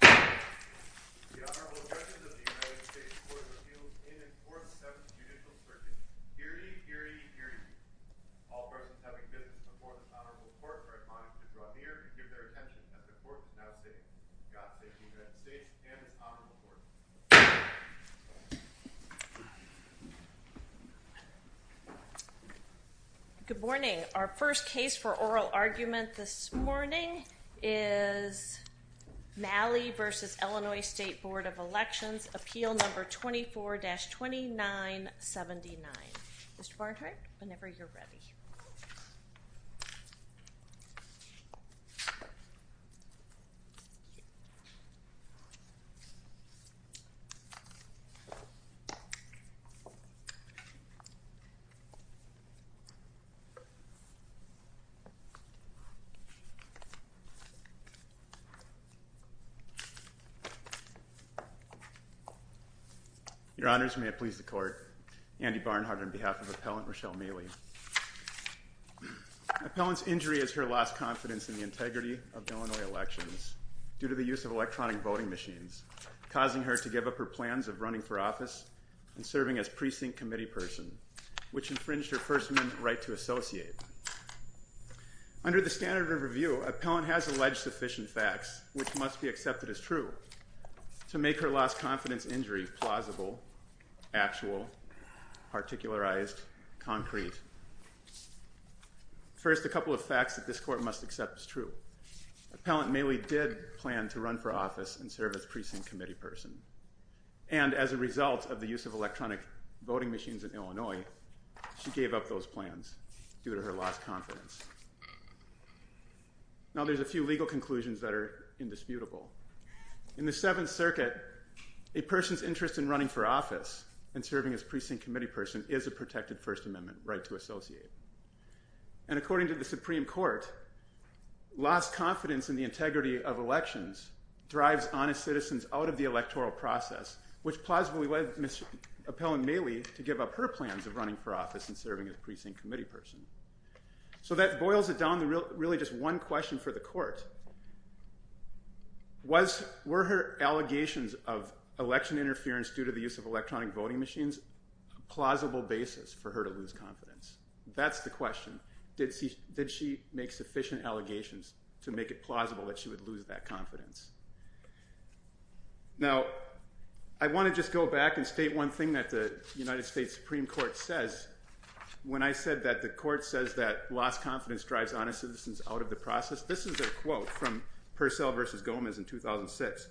The Honorable Judges of the United States Court of Appeals in and for the Seventh Judicial Circuit. Hear ye, hear ye, hear ye. All persons having business before this Honorable Court are admonished to draw near and give their attention that the Court is now safe. God save the United States and this Honorable Court. Good morning. Our first case for oral argument this morning is Maly v. Illinois State Board of Elections, appeal number 24-2979. Mr. Barnhart, whenever you're ready. Your Honors, may it please the Court, Andy Barnhart on behalf of Appellant Rochelle Maly. Appellant's injury is her lost confidence in the integrity of Illinois elections due to the use of electronic voting machines, causing her to give up her plans of running for office and serving as precinct committee person, which infringed her First Amendment right to associate. Under the standard of review, Appellant has alleged sufficient facts, which must be accepted as true, to make her lost confidence injury plausible, actual, particularized, concrete. First, a couple of facts that this Court must accept as true. Appellant Maly did plan to run for office and serve as precinct committee person. And as a result of the use of electronic voting machines in Illinois, she gave up those plans due to her lost confidence. Now there's a few legal conclusions that are indisputable. In the Seventh Circuit, a person's interest in running for office and serving as precinct committee person is a protected First Amendment right to associate. And according to the Supreme Court, lost confidence in the integrity of elections drives honest citizens out of the electoral process, which plausibly led Appellant Maly to give up her plans of running for office and serving as precinct committee person. So that boils it down to really just one question for the Court. Were her allegations of election interference due to the use of electronic voting machines a plausible basis for her to lose confidence? That's the question. Did she make sufficient allegations to make it plausible that she would lose that confidence? Now, I want to just go back and state one thing that the United States Supreme Court says when I said that the Court says that lost confidence drives honest citizens out of the process. This is a quote from Purcell v. Gomez in 2006.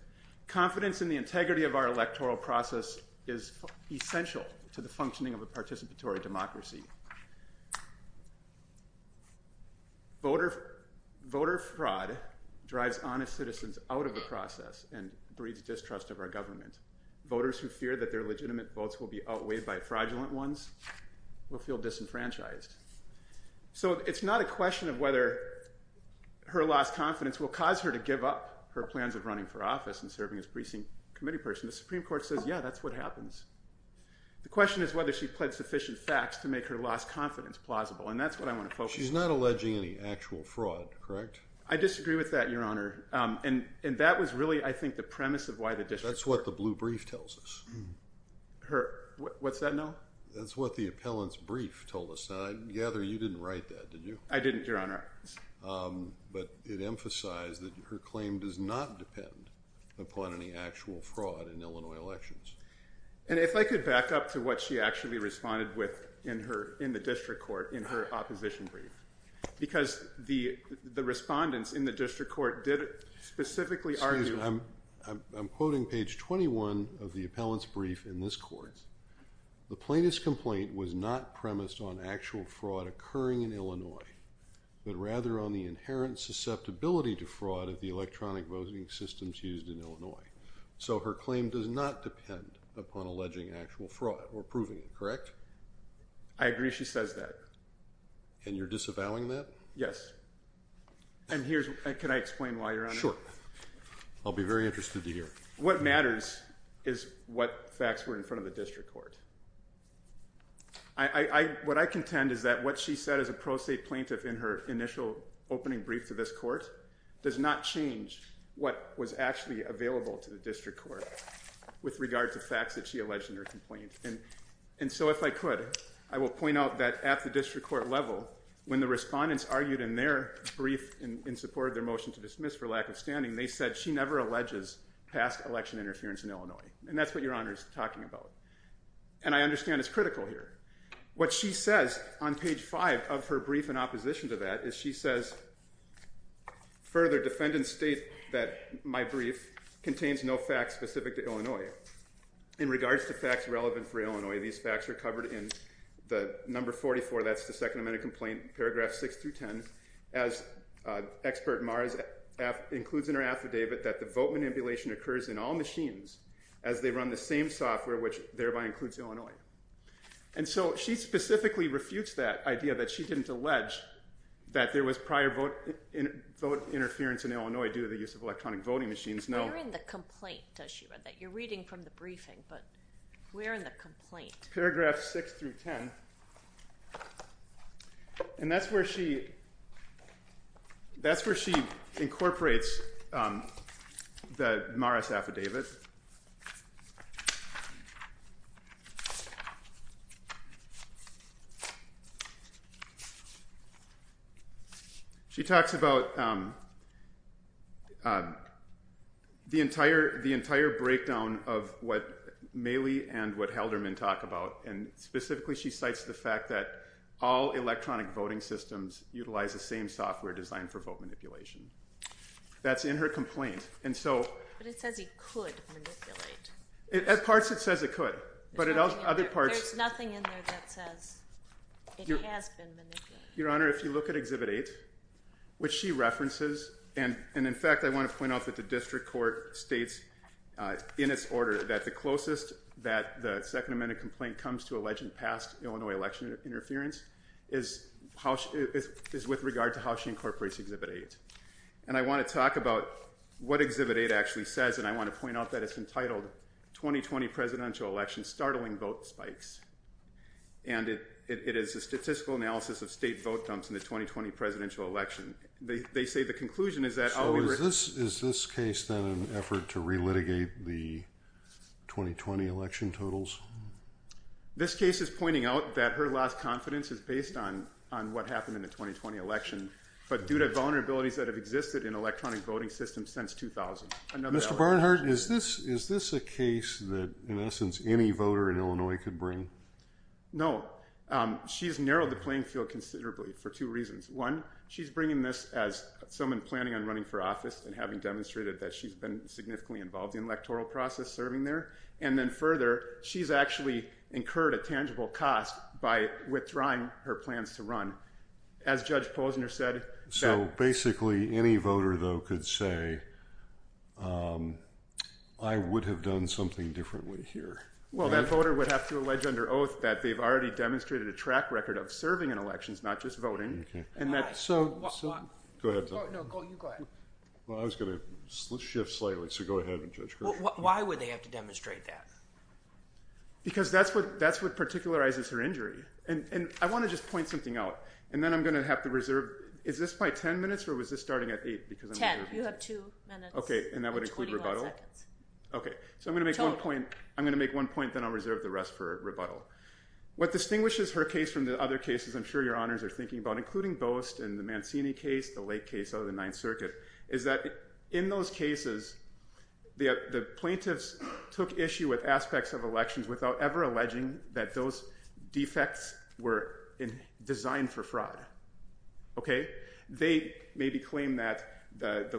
Confidence in the integrity of our electoral process is essential to the functioning of a participatory democracy. Voter fraud drives honest citizens out of the process and breeds distrust of our government. Voters who fear that their legitimate votes will be outweighed by fraudulent ones will feel disenfranchised. So it's not a question of whether her lost confidence will cause her to give up her plans of running for office and serving as precinct committee person. The Supreme Court says, yeah, that's what happens. The question is whether she pled sufficient facts to make her lost confidence plausible. And that's what I want to focus on. She's not alleging any actual fraud, correct? I disagree with that, Your Honor. And that was really, I think, the premise of why the district… That's what the blue brief tells us. What's that now? That's what the appellant's brief told us. Now, I gather you didn't write that, did you? I didn't, Your Honor. But it emphasized that her claim does not depend upon any actual fraud in Illinois elections. And if I could back up to what she actually responded with in the district court in her opposition brief. Because the respondents in the district court did specifically argue… Excuse me. I'm quoting page 21 of the appellant's brief in this court. The plaintiff's complaint was not premised on actual fraud occurring in Illinois, but rather on the inherent susceptibility to fraud of the electronic voting systems used in Illinois. So her claim does not depend upon alleging actual fraud or proving it, correct? I agree she says that. And you're disavowing that? Yes. And here's—can I explain why, Your Honor? Sure. I'll be very interested to hear. What matters is what facts were in front of the district court. What I contend is that what she said as a pro se plaintiff in her initial opening brief to this court does not change what was actually available to the district court with regard to facts that she alleged in her complaint. And so if I could, I will point out that at the district court level, when the respondents argued in their brief in support of their motion to dismiss for lack of standing, they said she never alleges past election interference in Illinois. And that's what Your Honor is talking about. And I understand it's critical here. What she says on page 5 of her brief in opposition to that is she says, Further, defendants state that my brief contains no facts specific to Illinois. In regards to facts relevant for Illinois, these facts are covered in the number 44, that's the Second Amendment complaint, paragraphs 6 through 10, as expert Mara includes in her affidavit that the vote manipulation occurs in all machines as they run the same software, which thereby includes Illinois. And so she specifically refutes that idea that she didn't allege that there was prior vote interference in Illinois due to the use of electronic voting machines. We're in the complaint, as she read that. You're reading from the briefing, but we're in the complaint. Paragraphs 6 through 10, and that's where she incorporates the Mara's affidavit. She talks about the entire breakdown of what Maley and what Halderman talk about, and specifically she cites the fact that all electronic voting systems utilize the same software designed for vote manipulation. That's in her complaint. But it says it could manipulate. At parts it says it could, but at other parts... There's nothing in there that says it has been manipulated. Your Honor, if you look at Exhibit 8, which she references, and in fact I want to point out that the district court states in its order that the closest that the Second Amendment complaint comes to alleging past Illinois election interference is with regard to how she incorporates Exhibit 8. And I want to talk about what Exhibit 8 actually says, and I want to point out that it's entitled 2020 Presidential Election Startling Vote Spikes, and it is a statistical analysis of state vote dumps in the 2020 presidential election. They say the conclusion is that... So is this case then an effort to re-litigate the 2020 election totals? This case is pointing out that her last confidence is based on what happened in the 2020 election, but due to vulnerabilities that have existed in electronic voting systems since 2000. Mr. Barnhart, is this a case that, in essence, any voter in Illinois could bring? No. She's narrowed the playing field considerably for two reasons. One, she's bringing this as someone planning on running for office and having demonstrated that she's been significantly involved in the electoral process serving there. And then further, she's actually incurred a tangible cost by withdrawing her plans to run. As Judge Posner said... So basically, any voter, though, could say, I would have done something differently here. Well, that voter would have to allege under oath that they've already demonstrated a track record of serving in elections, not just voting, and that... So... Go ahead. No, you go ahead. Well, I was going to shift slightly, so go ahead, Judge Gershwin. Why would they have to demonstrate that? Because that's what particularizes her injury. And I want to just point something out, and then I'm going to have to reserve... Is this my 10 minutes, or was this starting at 8? 10. You have 2 minutes and 21 seconds. Okay. So I'm going to make one point, then I'll reserve the rest for rebuttal. What distinguishes her case from the other cases I'm sure Your Honors are thinking about, including Boast and the Mancini case, the Lake case out of the Ninth Circuit, is that in those cases, the plaintiffs took issue with aspects of elections without ever alleging that those defects were designed for fraud. Okay? They maybe claimed that the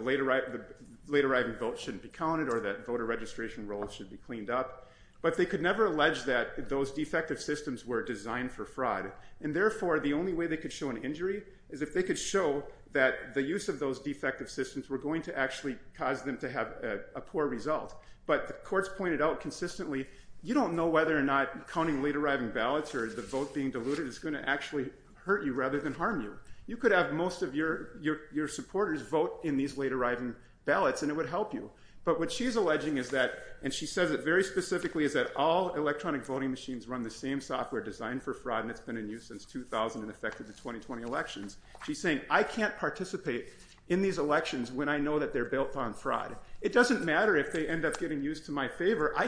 late-arriving vote shouldn't be counted or that voter registration rolls should be cleaned up, but they could never allege that those defective systems were designed for fraud. And therefore, the only way they could show an injury is if they could show that the use of those defective systems were going to actually cause them to have a poor result. But the courts pointed out consistently, you don't know whether or not counting late-arriving ballots or the vote being diluted is going to actually hurt you rather than harm you. You could have most of your supporters vote in these late-arriving ballots, and it would help you. But what she's alleging is that, and she says it very specifically, is that all electronic voting machines run the same software designed for fraud, and it's been in use since 2000 and affected the 2020 elections. She's saying, I can't participate in these elections when I know that they're built on fraud. It doesn't matter if they end up getting used to my favor. I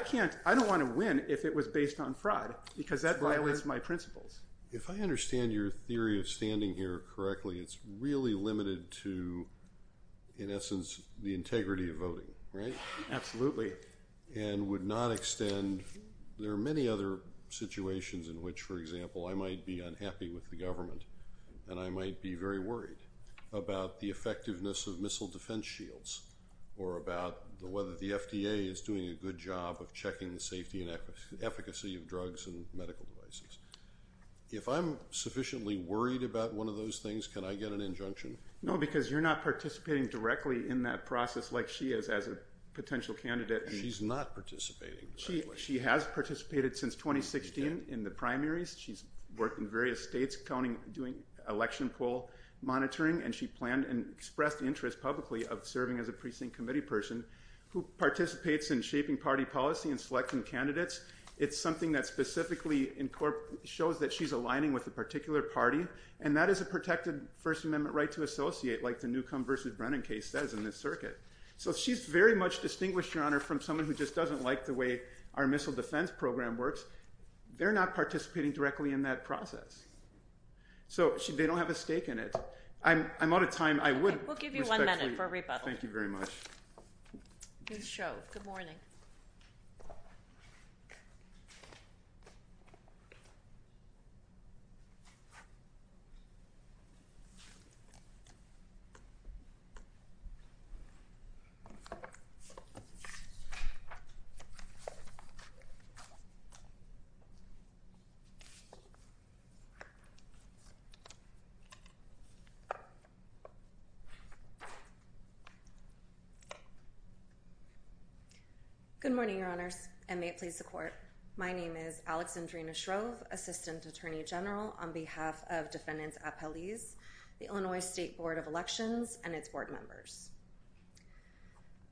don't want to win if it was based on fraud because that violates my principles. If I understand your theory of standing here correctly, it's really limited to, in essence, the integrity of voting, right? Absolutely. And would not extend. There are many other situations in which, for example, I might be unhappy with the government and I might be very worried about the effectiveness of missile defense shields or about whether the FDA is doing a good job of checking the safety and efficacy of drugs and medical devices. If I'm sufficiently worried about one of those things, can I get an injunction? No, because you're not participating directly in that process like she is as a potential candidate. She's not participating directly. She has participated since 2016 in the primaries. She's worked in various states doing election poll monitoring, and she planned and expressed interest publicly of serving as a precinct committee person who participates in shaping party policy and selecting candidates. It's something that specifically shows that she's aligning with a particular party, and that is a protected First Amendment right to associate, like the Newcomb v. Brennan case says in this circuit. So she's very much distinguished, Your Honor, from someone who just doesn't like the way our missile defense program works. They're not participating directly in that process, so they don't have a stake in it. I'm out of time. We'll give you one minute for a rebuttal. Thank you very much. Good show. Good morning. Good morning, Your Honors, and may it please the Court. My name is Alexandrina Shrove, Assistant Attorney General on behalf of Defendants Appellees, the Illinois State Board of Elections, and its board members.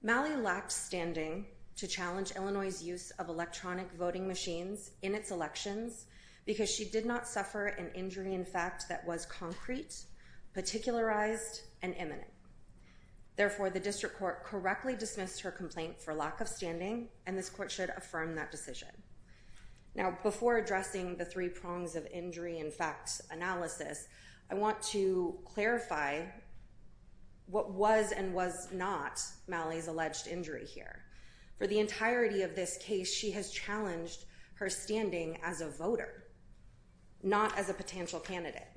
Malley lacked standing to challenge Illinois' use of electronic voting machines in its elections because she did not suffer an injury in fact that was concrete, particularized, and imminent. Therefore, the district court correctly dismissed her complaint for lack of standing, and this court should affirm that decision. Now, before addressing the three prongs of injury in fact analysis, I want to clarify what was and was not Malley's alleged injury here. For the entirety of this case, she has challenged her standing as a voter, not as a potential candidate.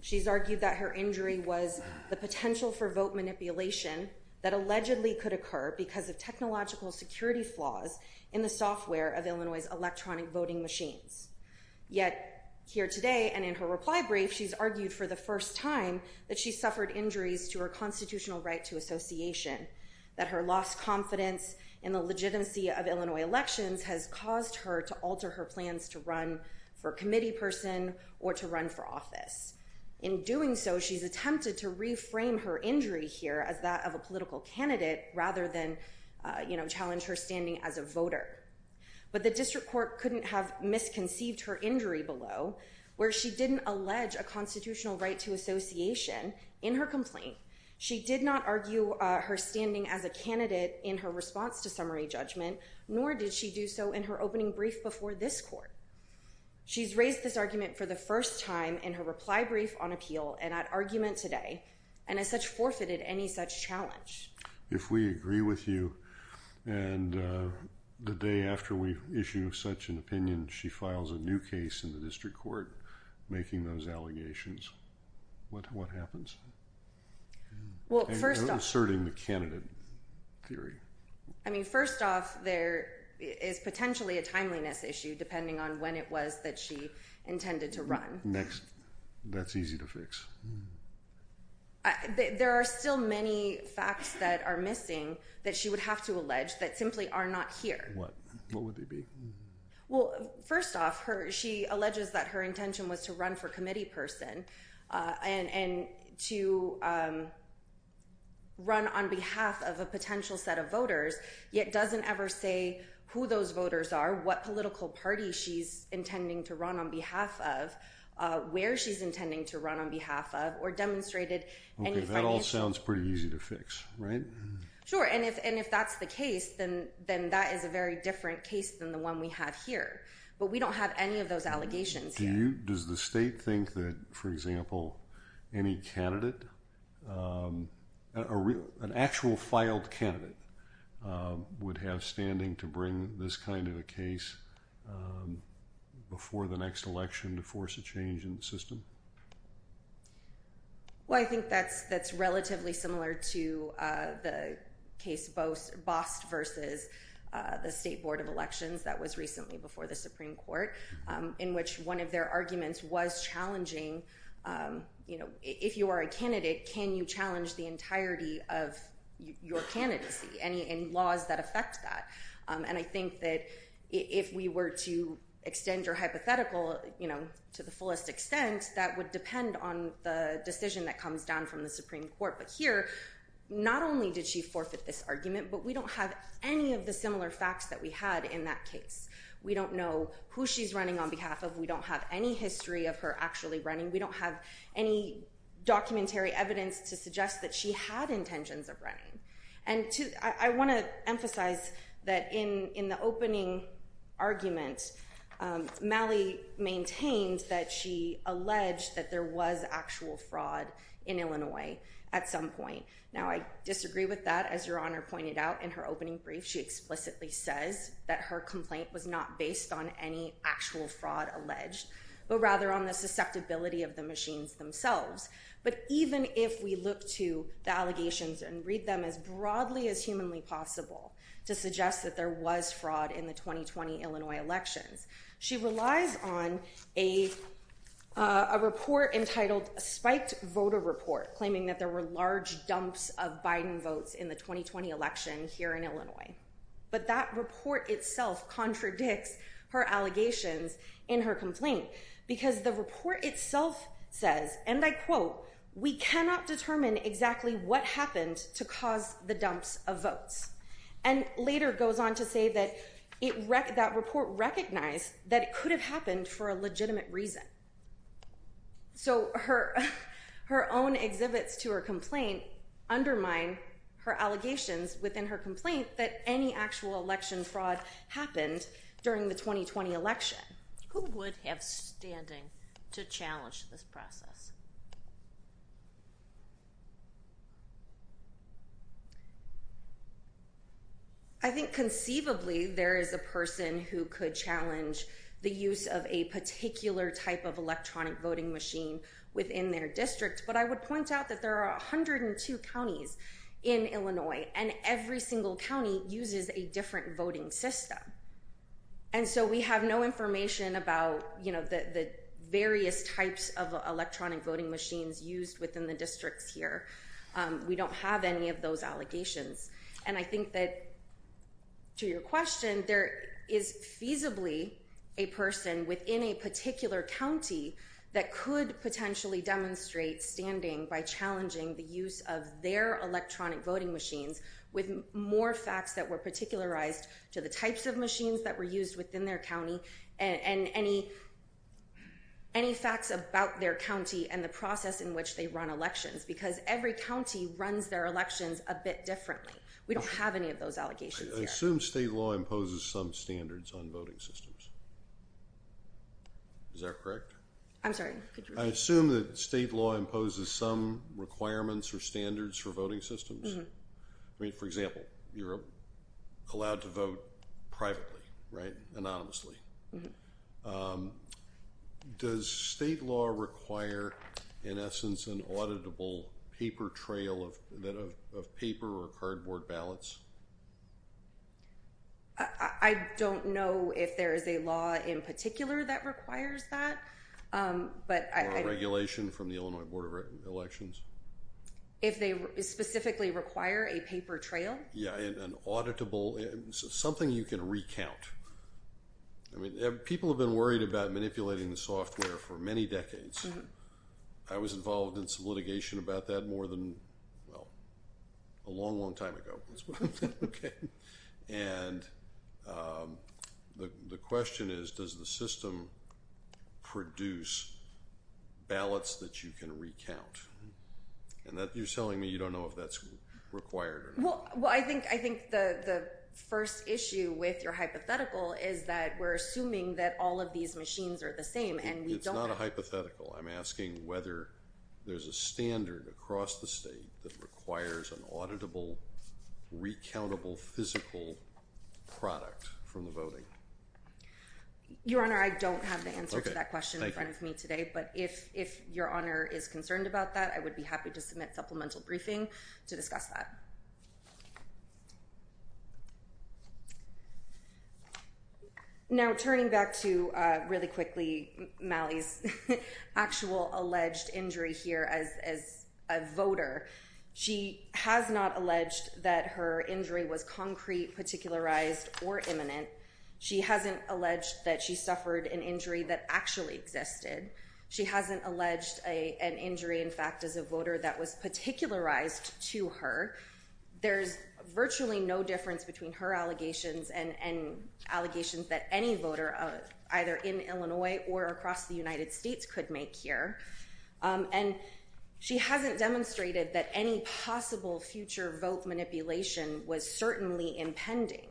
She's argued that her injury was the potential for vote manipulation that allegedly could occur because of technological security flaws in the software of Illinois' electronic voting machines. Yet, here today and in her reply brief, she's argued for the first time that she suffered injuries to her constitutional right to association, that her lost confidence in the legitimacy of Illinois elections has caused her to alter her plans to run for committee person or to run for office. In doing so, she's attempted to reframe her injury here as that of a political candidate rather than, you know, challenge her standing as a voter. But the district court couldn't have misconceived her injury below where she didn't allege a constitutional right to association in her complaint. She did not argue her standing as a candidate in her response to summary judgment nor did she do so in her opening brief before this court. She's raised this argument for the first time in her reply brief on appeal and at argument today and has such forfeited any such challenge. If we agree with you and the day after we issue such an opinion, she files a new case in the district court making those allegations, what happens? Well, first off. And asserting the candidate theory. I mean, first off, there is potentially a timeliness issue depending on when it was that she intended to run. Next. That's easy to fix. There are still many facts that are missing that she would have to allege that simply are not here. What? What would they be? Well, first off, she alleges that her intention was to run for committee person and to run on behalf of a potential set of voters, yet doesn't ever say who those voters are, what political party she's intending to run on behalf of, where she's intending to run on behalf of, or demonstrated. That all sounds pretty easy to fix, right? Sure. And if that's the case, then that is a very different case than the one we have here. But we don't have any of those allegations here. Does the state think that, for example, any candidate, an actual filed candidate, would have standing to bring this kind of a case before the next election to force a change in the system? Well, I think that's relatively similar to the case Bost versus the State Board of Elections that was recently before the Supreme Court, in which one of their arguments was challenging, if you are a candidate, can you challenge the entirety of your candidacy and laws that affect that? And I think that if we were to extend your hypothetical to the fullest extent, that would depend on the decision that comes down from the Supreme Court. But here, not only did she forfeit this argument, but we don't have any of the similar facts that we had in that case. We don't know who she's running on behalf of. We don't have any history of her actually running. We don't have any documentary evidence to suggest that she had intentions of running. And I want to emphasize that in the opening argument, Malley maintained that she alleged that there was actual fraud in Illinois at some point. Now, I disagree with that. As Your Honor pointed out in her opening brief, she explicitly says that her complaint was not based on any actual fraud alleged, but rather on the susceptibility of the machines themselves. But even if we look to the allegations and read them as broadly as humanly possible to suggest that there was fraud in the 2020 Illinois elections, she relies on a report entitled Spiked Voter Report claiming that there were large dumps of Biden votes in the 2020 election here in Illinois. But that report itself contradicts her allegations in her complaint because the report itself says, and I quote, we cannot determine exactly what happened to cause the dumps of votes. And later goes on to say that that report recognized that it could have happened for a legitimate reason. So her own exhibits to her complaint undermine her allegations within her complaint that any actual election fraud happened during the 2020 election. Who would have standing to challenge this process? I think conceivably there is a person who could challenge the use of a particular type of electronic voting machine within their district. But I would point out that there are 102 counties in Illinois and every single county uses a different voting system. And so we have no information about the various types of electronic voting machines used within the districts here. We don't have any of those allegations. And I think that, to your question, there is feasibly a person within a particular county that could potentially demonstrate standing by challenging the use of their electronic voting machines with more facts that were particularized to the types of machines that were used within their county and any facts about their county and the process in which they run elections. Because every county runs their elections a bit differently. We don't have any of those allegations here. I assume state law imposes some standards on voting systems. Is that correct? I'm sorry. I assume that state law imposes some requirements or standards for voting systems. For example, you're allowed to vote privately, right? Anonymously. Does state law require, in essence, an auditable paper trail of paper or cardboard ballots? I don't know if there is a law in particular that requires that. Or regulation from the Illinois Board of Elections? If they specifically require a paper trail? Yeah, an auditable, something you can recount. People have been worried about manipulating the software for many decades. I was involved in some litigation about that more than, well, a long, long time ago. And the question is, does the system produce ballots that you can recount? And you're telling me you don't know if that's required or not. Well, I think the first issue with your hypothetical is that we're assuming that all of these machines are the same. It's not a hypothetical. I'm asking whether there's a standard across the state that requires an auditable, recountable, physical product from the voting. Your Honor, I don't have the answer to that question in front of me today. But if your Honor is concerned about that, I would be happy to submit supplemental briefing to discuss that. Now, turning back to, really quickly, Mally's actual alleged injury here as a voter. She has not alleged that her injury was concrete, particularized, or imminent. She hasn't alleged that she suffered an injury that actually existed. She hasn't alleged an injury, in fact, as a voter that was particularized to her. There's virtually no difference between her allegations and allegations that any voter, either in Illinois or across the United States, could make here. And she hasn't demonstrated that any possible future vote manipulation was certainly impending.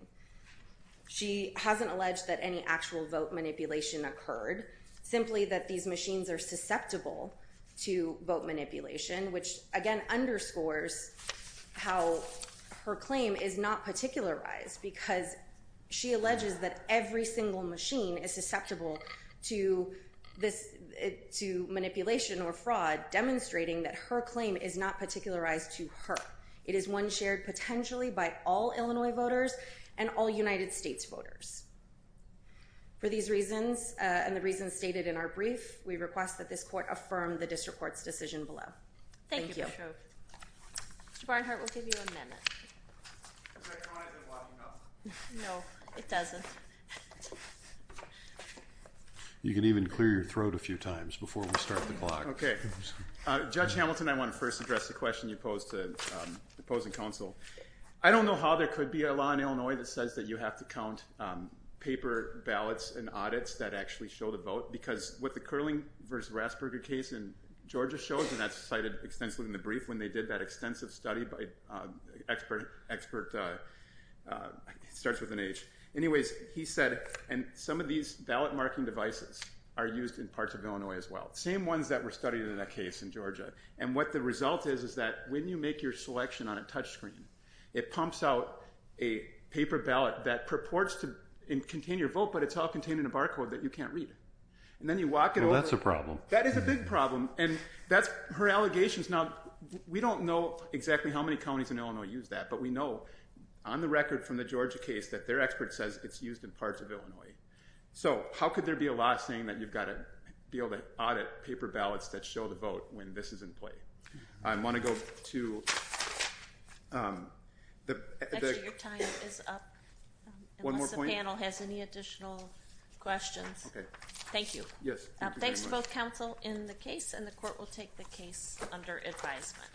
She hasn't alleged that any actual vote manipulation occurred, simply that these machines are susceptible to vote manipulation, which, again, underscores how her claim is not particularized, because she alleges that every single machine is susceptible to manipulation or fraud, demonstrating that her claim is not particularized to her. It is one shared potentially by all Illinois voters and all United States voters. For these reasons, and the reasons stated in our brief, we request that this court affirm the district court's decision below. Thank you. Thank you, Ms. Schovanec. Mr. Barnhart, we'll give you a minute. Is that drawing the blocking up? No, it doesn't. You can even clear your throat a few times before we start the clock. Okay. Judge Hamilton, I want to first address the question you posed to opposing counsel. I don't know how there could be a law in Illinois that says that you have to count paper ballots and audits that actually show the vote, because what the Kerling v. Rasberger case in Georgia shows, and that's cited extensively in the brief when they did that extensive study by expert, it starts with an H. Anyways, he said, and some of these ballot marking devices are used in parts of Illinois as well, same ones that were studied in that case in Georgia. And what the result is is that when you make your selection on a touchscreen, it pumps out a paper ballot that purports to contain your vote, but it's all contained in a barcode that you can't read. And then you walk it over. That's a problem. That is a big problem. And that's her allegations. Now, we don't know exactly how many counties in Illinois use that, but we know on the record from the Georgia case that their expert says it's used in parts of Illinois. So how could there be a law saying that you've got to be able to audit paper ballots that show the vote when this is in play? I want to go to the… Actually, your time is up. One more point? Unless the panel has any additional questions. Okay. Thank you. Yes. Thanks to both counsel in the case, and the court will take the case under advisement.